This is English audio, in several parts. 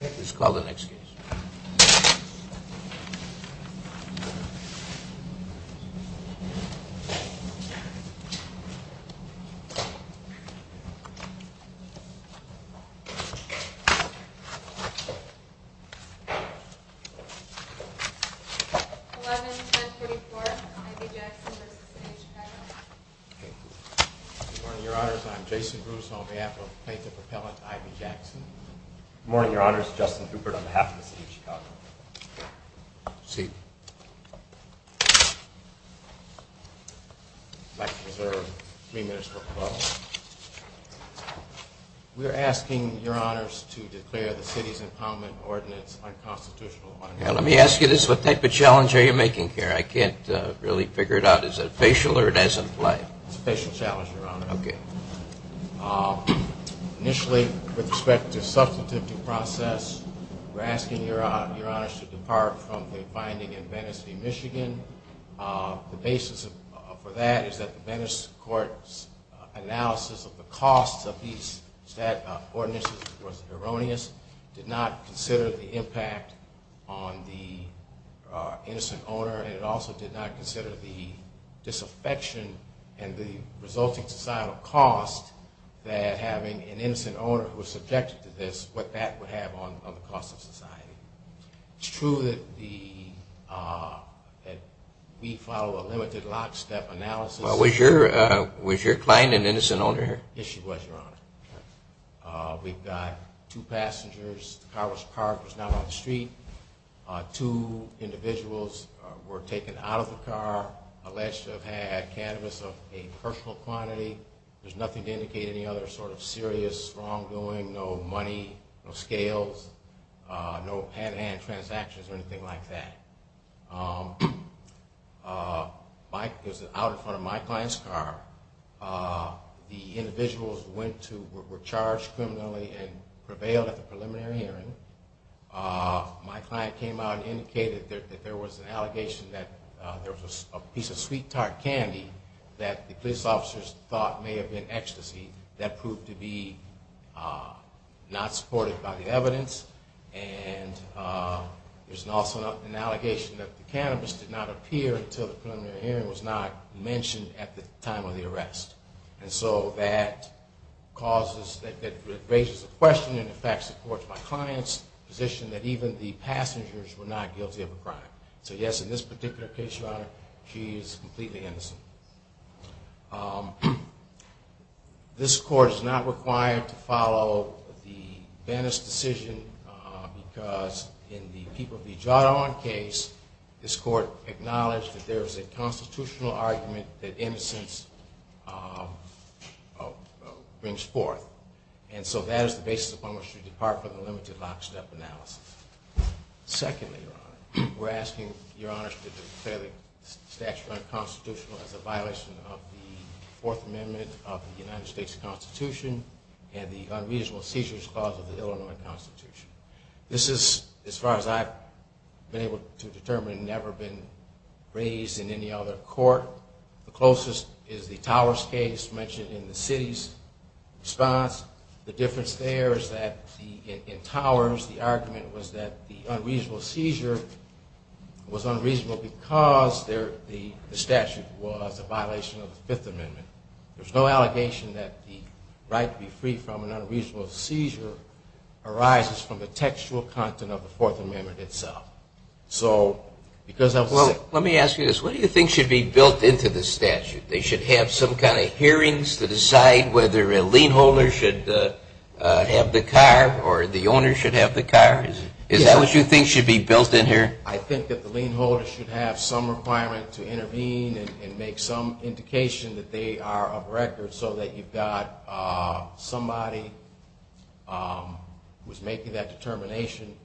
It's called the next case. 11 10 34. Your honor, I'm Jason Bruce on behalf of the propellant. Ivy Jackson. Morning. Your honor's Justin Cooper on behalf of the city of Chicago. We're asking your honors to declare the city's impoundment ordinance unconstitutional. Let me ask you this. What type of challenge are you making here? I can't really figure it out. Is it a facial or it as in play? It's a We're asking your your honors to depart from the finding in Venice v. Michigan. The basis for that is that the Venice court's analysis of the costs of these stat ordinances was erroneous, did not consider the impact on the innocent owner. And it also did not consider the disaffection and the resulting societal cost that having an innocent owner who was subjected to this, what that would have on the cost of society. It's true that the that we follow a limited lockstep analysis. Was your was your client an innocent owner here? Yes, she was your honor. We've got two passengers. The car was parked was not on the street. Two individuals were taken out of the car, alleged to have had cannabis of a personal quantity. There's nothing to indicate any other sort of serious wrongdoing, no money, no scales, no hand to hand transactions or anything like that. Uh, Mike is out in front of my client's car. Uh, the individuals went to were charged criminally and prevailed at the preliminary hearing. Uh, my client came out and indicated that there was an allegation that there was a piece of sweet tart candy that the police officers thought may have been ecstasy that proved to be, uh, not supported by the evidence. And, uh, there's also an allegation that the cannabis did not appear until the preliminary hearing was not mentioned at the time of the arrest. And so that causes that raises a question and, in fact, supports my client's position that even the passengers were not guilty of a crime. So, yes, in this particular case, your honor, she is completely innocent. Um, this court is not required to follow the Venice decision because in the people be drawn on case, this court acknowledged that there is a constitutional argument that innocence, uh, brings forth. And so that is the basis upon which you depart from the limited lockstep analysis. Secondly, we're asking your honor's fairly statutory constitutional as a violation of the Fourth Amendment of the United States Constitution and the unreasonable seizures cause of the Illinois Constitution. This is, as far as I've been able to determine, never been raised in any other court. The closest is the Towers case mentioned in the city's response. The difference there is that in Towers, the argument was that the unreasonable seizure was unreasonable because there the statute was a violation of the Fifth Amendment. There's no allegation that the right to be free from an unreasonable seizure arises from the textual content of the Fourth Amendment itself. So, because that's what let me ask you this. What do you think should be built into the statute? They should have some kind of hearings to decide whether a lien holder should have the car or the owner should have the car. Is that what you think should be built in here? I think that the lien holder should have some requirement to intervene and make some indication that they are of record so that you've got somebody who's making that determination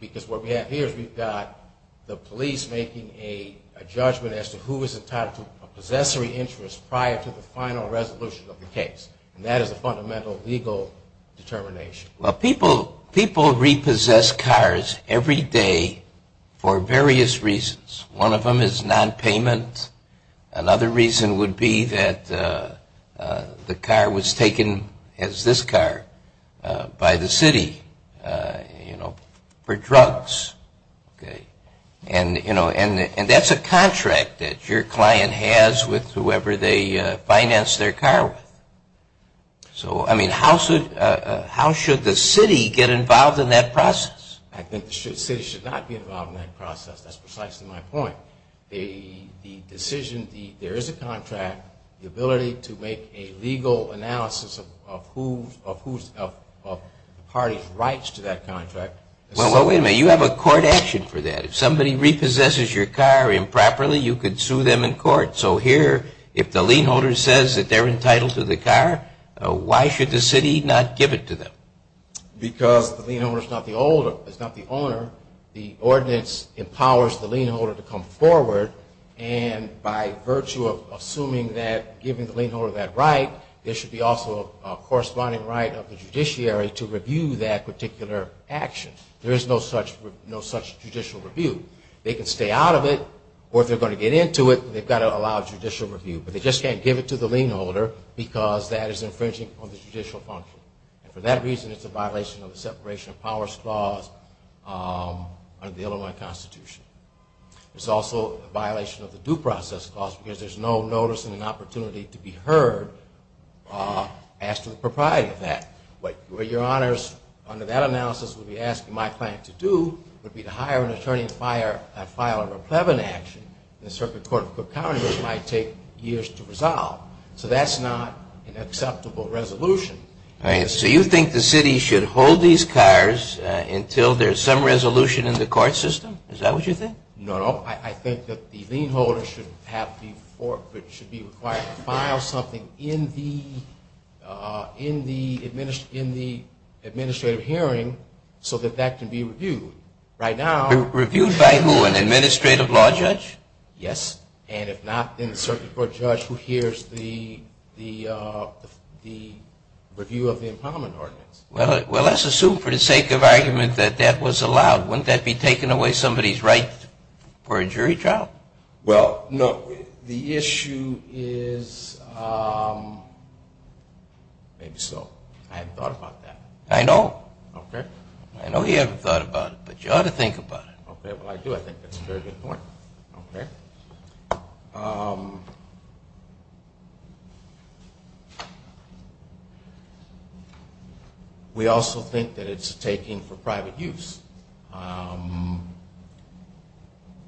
because what we have here is we've got the police making a judgment as to who is entitled to a possessory interest prior to the final resolution of the case. And that is a fundamental legal determination. Well, people repossess cars every day for various reasons. One of them is nonpayment. Another reason would be that the car was taken, as this car, by the city, you know, for drugs. And, you know, and that's a contract that your client has with whoever they finance their car with. So, I mean, how should the city get involved in that process? I think the city should not be involved in that process. That's precisely my point. The decision, there is a contract, the ability to make a legal analysis of whose, of the party's rights to that contract. Well, wait a minute. You have a court action for that. If somebody repossesses your car improperly, you could sue them in court. So here, if the lien holder says that they're entitled to the car, why should the city not give it to them? Because the lien holder is not the owner. The ordinance empowers the lien holder to come forward, and by virtue of assuming that giving the lien holder that right, there should be also a corresponding right of the judiciary to review that particular action. There is no such judicial review. They can stay out of it, or if they're going to get into it, they've got to allow judicial review. But they just can't give it to the lien holder because that is infringing on the judicial function. And for that reason, it's a violation of the Separation of the Constitution. It's also a violation of the Due Process Clause because there's no notice and an opportunity to be heard as to the propriety of that. What your honors, under that analysis, would be asking my client to do would be to hire an attorney and file a replevant action, and the Circuit Court of Cook County might take years to resolve. So that's not an acceptable resolution. All right. So you think the city should hold these cars until there's some resolution in the court system? Is that what you think? No, no. I think that the lien holder should be required to file something in the administrative hearing so that that can be reviewed. Reviewed by who? An administrative law judge? Yes. And if not, then a circuit court judge who hears the review of the empowerment ordinance. Well, let's assume for the sake of argument that that was allowed. Wouldn't that be taking away somebody's right for a jury trial? Well, no. The issue is maybe so. I haven't thought about that. I know. I know you haven't thought about it, but you ought to think about it. Okay. Well, I do. I think that's a very good point. Okay. We also think that it's taking for private use.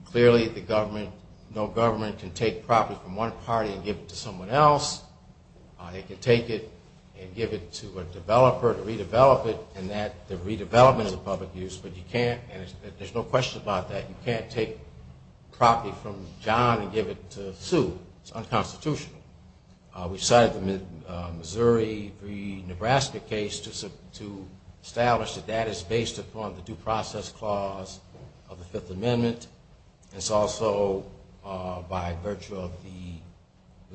Clearly, the government, no government can take property from one party and give it to someone else. They can take it and give it to a developer to redevelop it, and that redevelopment is a public use, but you can't, and there's no question about that, you can't take property from John and give it to Sue. It's unconstitutional. We cited the Missouri v. Nebraska case to establish that that is based upon the due process clause of the Fifth Amendment. It's also by virtue of the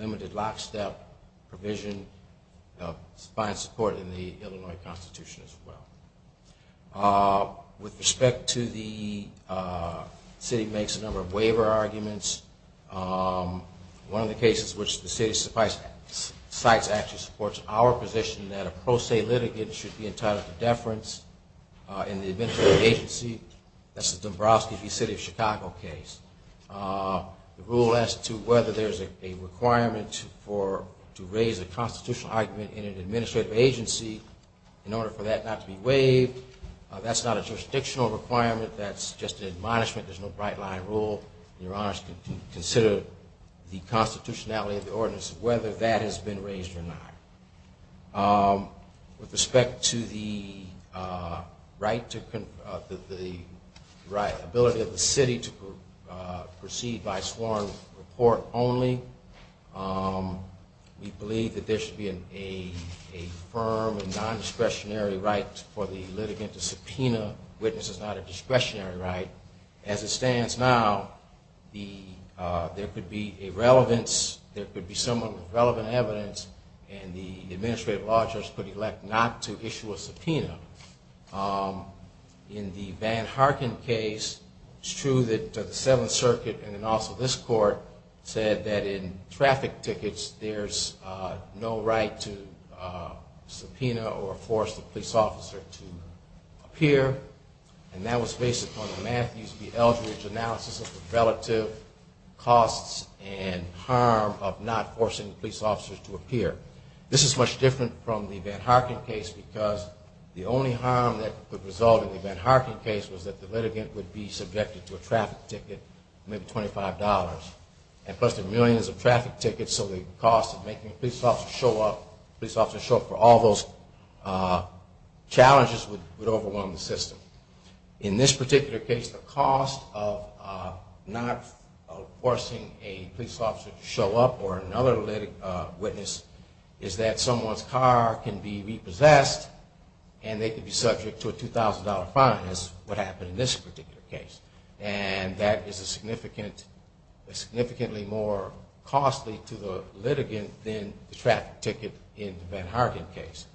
limited lockstep provision of the Fifth Amendment. The city makes a number of waiver arguments. One of the cases which the city cites actually supports our position that a pro se litigant should be entitled to deference in the administrative agency. That's the Dombroski v. City of Chicago case. The rule as to whether there's a requirement to raise a constitutional argument in an administrative agency in order for that not to be waived, that's not a jurisdictional requirement. That's just an admonishment. There's no bright line rule. Your honors can consider the constitutionality of the ordinance, whether that has been raised or not. Um, with respect to the, uh, right to the right ability of the city to proceed by sworn report only. Um, we believe that there should be a firm and nondiscretionary right for the litigant to subpoena witnesses, not a discretionary right. As it stands now, the, uh, there could be a relevance, there could be some relevant evidence, and the administrative law judge could elect not to issue a subpoena. Um, in the Van Harken case, it's true that the Seventh Circuit, and then also this court, said that in traffic tickets, there's, uh, no right to, uh, subpoena or force the police officer to appear. And that was based upon the Matthews v. Eldridge analysis of the relative costs and harm of not forcing police officers to appear. This is much different from the Van Harken case because the only harm that could result in the Van Harken case was that the litigant would be subjected to a traffic ticket, maybe $25, and plus the millions of traffic tickets. So the cost of making a police officer show up, police officer show up for all those, uh, challenges would overwhelm the system. In this particular case, the cost of, uh, not forcing a police officer to show up or another litig, uh, witness is that someone's car can be repossessed, and they could be subject to a $2,000 fine is what happened in this particular case. And that is a significant, significantly more costly to the litigant than the traffic ticket in the Van Harken case.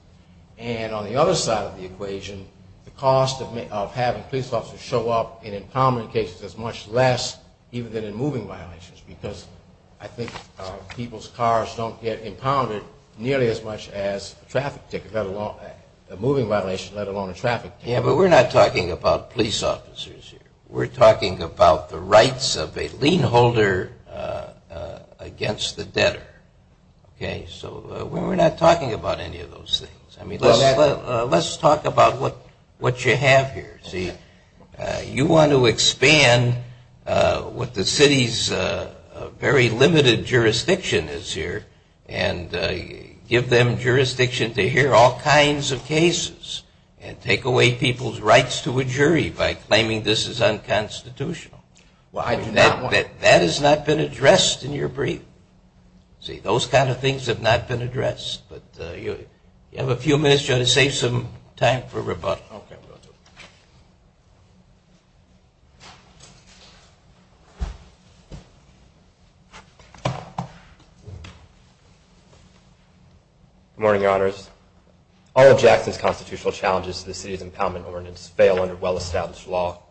And on the other side of the equation, the cost of having police officers show up in impoundment cases is much less, even than in moving violations, because I think people's cars don't get impounded nearly as much as a traffic ticket, let alone a moving violation, let alone a traffic ticket. Yeah, but we're not talking about police officers here. We're talking about the rights of a lien holder, uh, against the debtor. Okay? So we're not talking about any of those things. I mean, let's talk about what, what you have here. See, you want to expand, uh, what the city's, uh, very limited jurisdiction is here, and, uh, give them jurisdiction to hear all kinds of cases and take away people's rights to a jury by claiming this is unconstitutional. Well, I do not want... That has not been addressed in your brief. See, those kind of things have not been addressed. But, uh, you have a few minutes to save some time for rebuttal. Okay. Good morning, Your Honors. All of Jackson's constitutional challenges to the city's impoundment ordinance fail under well-established law.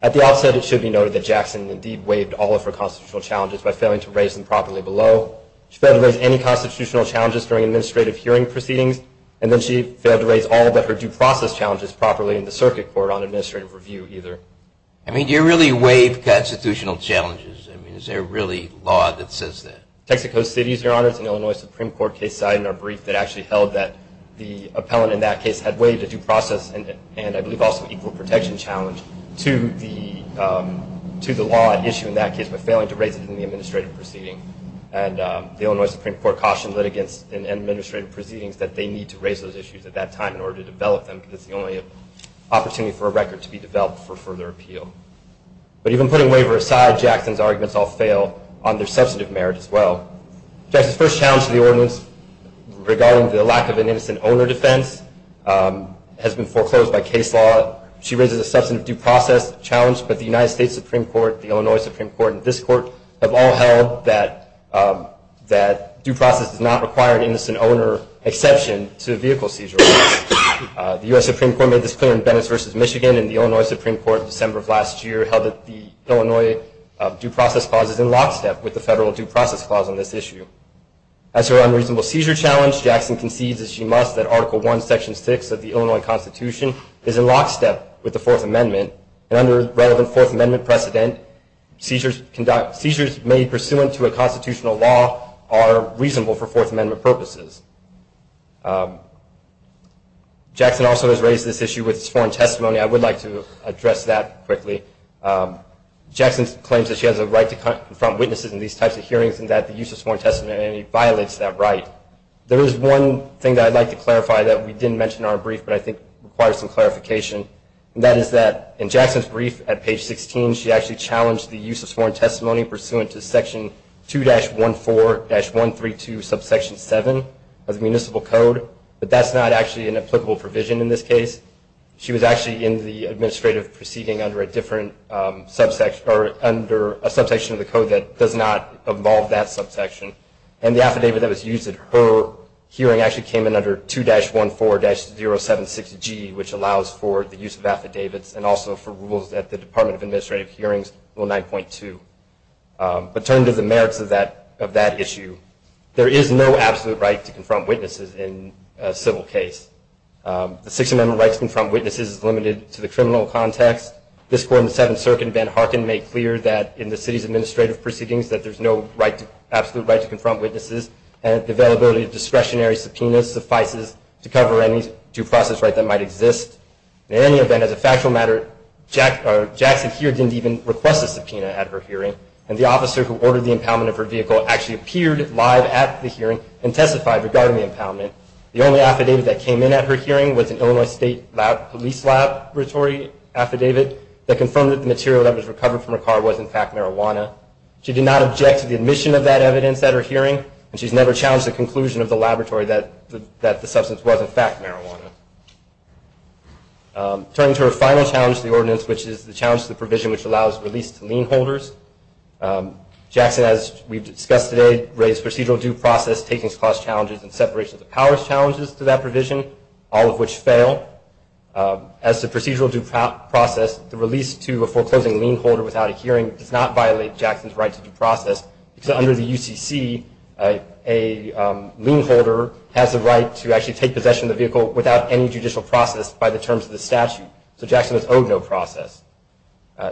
At the outset, it should be noted that Jackson indeed waived all of her constitutional challenges by failing to raise them properly below. She failed to raise any constitutional challenges during administrative hearing proceedings, and then she failed to raise all but her due process challenges properly in the circuit court on administrative review either. I mean, do you really waive constitutional challenges? I mean, is there really law that says that? Texas Coast Cities, Your Honors, an Illinois Supreme Court case cited in our brief that actually held that the appellant in that case had waived a due process, and I believe also an equal protection challenge, to the law at issue in that case by failing to raise it in the administrative proceeding. And the Illinois Supreme Court cautioned litigants in administrative proceedings that they need to raise those issues at that time in order to develop them, because it's the only opportunity for a record to be developed for further appeal. But even putting waiver aside, Jackson's arguments all fail on their substantive merit as well. Jackson's first challenge to the ordinance regarding the lack of an innocent owner defense has been foreclosed by case law. She raises a substantive due process challenge, but the United States Supreme Court, the Illinois Supreme Court, and this Court have all held that due process does not require an innocent owner exception to a vehicle seizure. The US Supreme Court made this clear in Bennis v. Michigan, and the Illinois Supreme Court in December of last year held that the Illinois due process clause is in lockstep with the federal due process clause on this issue. As for Article I, Section 6 of the Illinois Constitution, it is in lockstep with the Fourth Amendment, and under relevant Fourth Amendment precedent, seizures made pursuant to a constitutional law are reasonable for Fourth Amendment purposes. Jackson also has raised this issue with sworn testimony. I would like to address that quickly. Jackson claims that she has a right to confront witnesses in these types of hearings and that the use of sworn testimony violates that right. There is one thing that I'd like to clarify that we didn't mention in our brief, but I think requires some clarification, and that is that in Jackson's brief at page 16, she actually challenged the use of sworn testimony pursuant to Section 2-14-132 subsection 7 of the municipal code, but that's not actually an applicable provision in this case. She was actually in the administrative proceeding under a different subsection, or under a subsection of the code that does not involve that subsection, and the affidavit that was used at her hearing actually came in under 2-14-076G, which allows for the use of affidavits, and also for rules that the Department of Administrative Hearings Rule 9.2. But turn to the merits of that issue. There is no absolute right to confront witnesses in a civil case. The Sixth Amendment rights to confront witnesses is limited to the criminal context. This Court in the Seventh Circuit in Van Harken made clear that in the city's administrative proceedings that there's no absolute right to confront witnesses, and the availability of discretionary subpoenas suffices to cover any due process right that might exist. In any event, as a factual matter, Jackson here didn't even request a subpoena at her hearing, and the officer who ordered the impoundment of her vehicle actually appeared live at the hearing and testified regarding the impoundment. The only affidavit that came in at her hearing was an Illinois State Police Laboratory affidavit that confirmed that the material that was recovered from her car was, in fact, marijuana. She did not object to the admission of that evidence at her hearing, and she's never challenged the conclusion of the laboratory that the substance was, in fact, marijuana. Turning to her final challenge to the ordinance, which is the challenge to the provision which allows release to lien holders, Jackson, as we've discussed today, raised procedural due process, takings clause challenges, and separation of powers challenges to that provision, all of which fail. As to procedural due process, the release to a foreclosing lien holder without a hearing does not violate Jackson's right to due process, because under the UCC, a lien holder has the right to actually take possession of the vehicle without any judicial process by the terms of the statute, so Jackson is owed no process.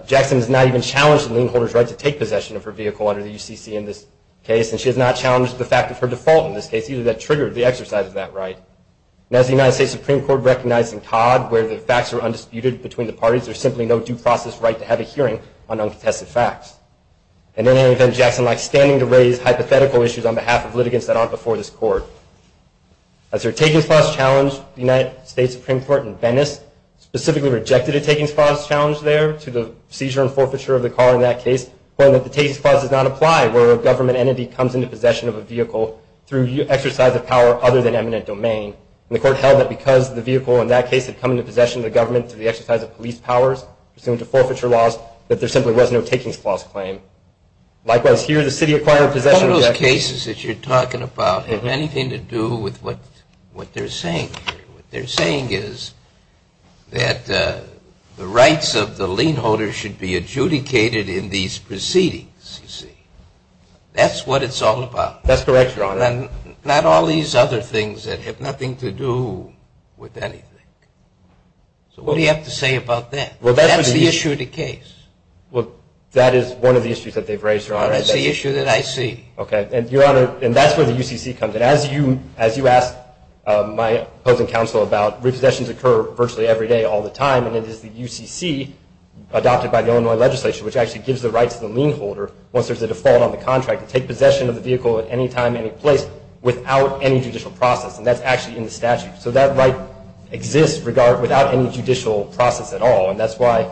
Jackson has not even challenged the lien holder's right to take possession of her vehicle under the UCC in this case, and she has not challenged the fact of her default in this case, either that triggered the exercise of that right. Now, as the United States Supreme Court recognized in Todd, where the facts are undisputed between the parties, there's simply no due process right to have a hearing on And in any event, Jackson likes standing to raise hypothetical issues on behalf of litigants that aren't before this court. As her takings clause challenge, the United States Supreme Court in Venice specifically rejected a takings clause challenge there to the seizure and forfeiture of the car in that case, pointing that the takings clause does not apply where a government entity comes into possession of a vehicle through exercise of power other than eminent domain. And the court held that because the vehicle in that case had come into possession of the government through the exercise of police powers, pursuant to likewise, here, the city acquired possession cases that you're talking about have anything to do with what what they're saying. What they're saying is that the rights of the lien holder should be adjudicated in these proceedings. See, that's what it's all about. That's correct. And not all these other things that have nothing to do with anything. So what do you have to say about that? Well, that's the issue of the case. Well, that is one of the issues that they've raised, Your Honor. That's the issue that I see. Okay. And Your Honor, and that's where the UCC comes in. As you asked my opposing counsel about, repossessions occur virtually every day, all the time. And it is the UCC adopted by the Illinois legislation, which actually gives the rights of the lien holder, once there's a default on the contract, to take possession of the vehicle at any time, any place without any judicial process. And that's actually in the statute. So that right exists without any judicial process at all. And that's why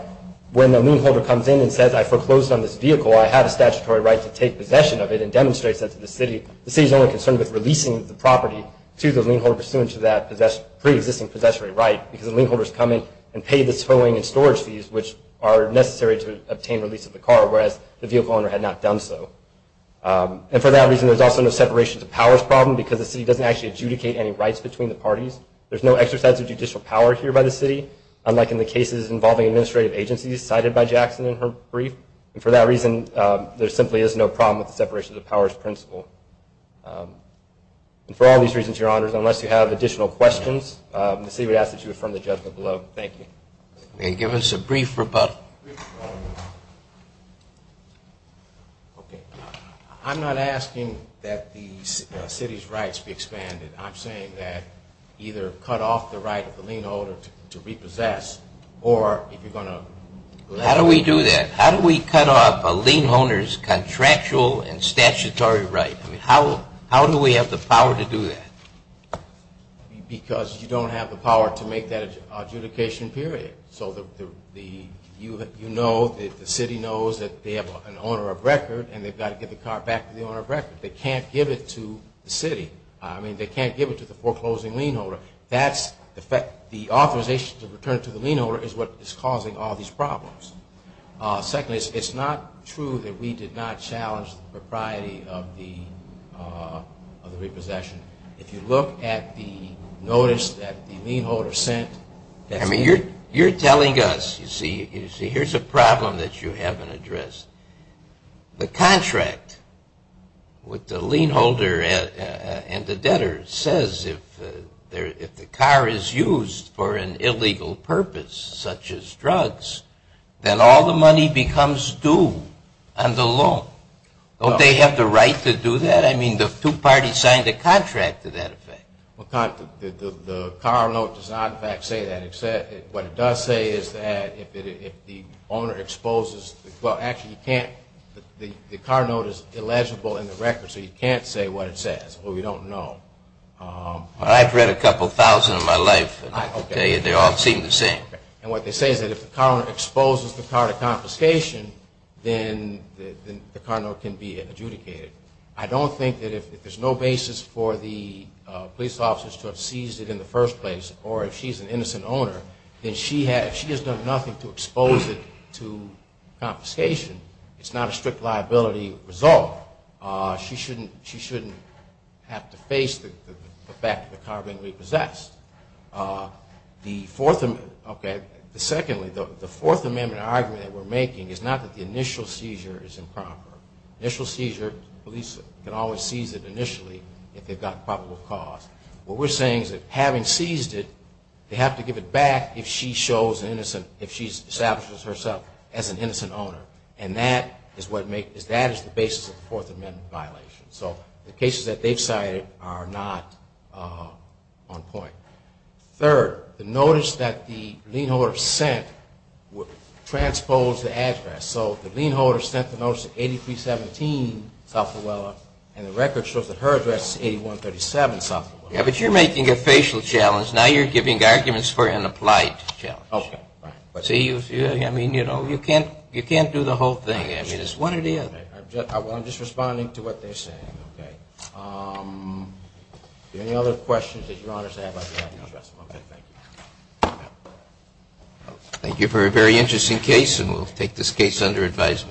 when the lien holder comes in and says, I foreclosed on this vehicle, I have a statutory right to take possession of it and demonstrates that to the city, the city is only concerned with releasing the property to the lien holder pursuant to that pre-existing possessory right, because the lien holder is coming and paid the towing and storage fees, which are necessary to obtain release of the car, whereas the vehicle owner had not done so. And for that reason, there's also no separation of powers problem, because the city doesn't actually adjudicate any rights between the parties. There's no exercise of judicial power here by the city, unlike in the cases involving administrative agencies cited by Jackson in her brief. And for that reason, there simply is no problem with the separation of powers principle. And for all these reasons, Your Honors, unless you have additional questions, the city would ask that you affirm the judgment below. Thank you. And give us a brief rebuttal. Okay, I'm not asking that the city's rights be expanded. I'm saying that either cut off the right of the lien holder to repossess, or if you're going to... How do we do that? How do we cut off a lien holder's contractual and statutory right? I mean, how do we have the power to do that? Because you don't have the power to make that adjudication period. So you know that the city knows that they have an owner of record, and they've got to give the car back to the owner of record. They can't give it to the city. I mean, they can't give it to the foreclosing lien holder. The authorization to return to the lien holder is what is causing all these problems. Secondly, it's not true that we did not challenge the propriety of the repossession. If you look at the notice that the lien holder sent... I mean, you're telling us, you see, here's a problem that you haven't addressed. The contract with the lien holder and the debtor says if the car is used for an illegal purpose, such as drugs, then all the money becomes due on the loan. Don't they have the right to do that? I mean, the two parties signed a contract to that effect. Well, the car note does not, in fact, say that. What it does say is that if the owner exposes... Well, actually, you can't... The car note is illegible in the record, so you can't say what it says. Well, we don't know. I've read a couple thousand in my life, and I can tell you they all seem the same. And what they say is that if the car exposes the car to confiscation, then the car note can be adjudicated. I don't think that if there's no basis for the police officers to have seized it in the first place, or if she's an innocent owner, then she has done nothing to expose it to confiscation. It's not a strict liability result. She shouldn't have to face the fact that the car being repossessed. The fourth... Okay, secondly, the Fourth Amendment argument that we're making is not that the initial seizure is improper. Initial seizure, police can always seize it initially if they've got probable cause. What we're saying is that having seized it, they have to give it back if she shows an innocent... And that is the basis of the Fourth Amendment violation. So the cases that they've cited are not on point. Third, the notice that the lien holder sent transposed the address. So the lien holder sent the notice to 8317 South Auella, and the record shows that her address is 8137 South Auella. Yeah, but you're making a facial challenge. Now you're giving arguments for an entire case. Well, I'm just responding to what they're saying, okay? Any other questions that Your Honor has about the address? Okay, thank you. Thank you for a very interesting case, and we'll take this case under advisement.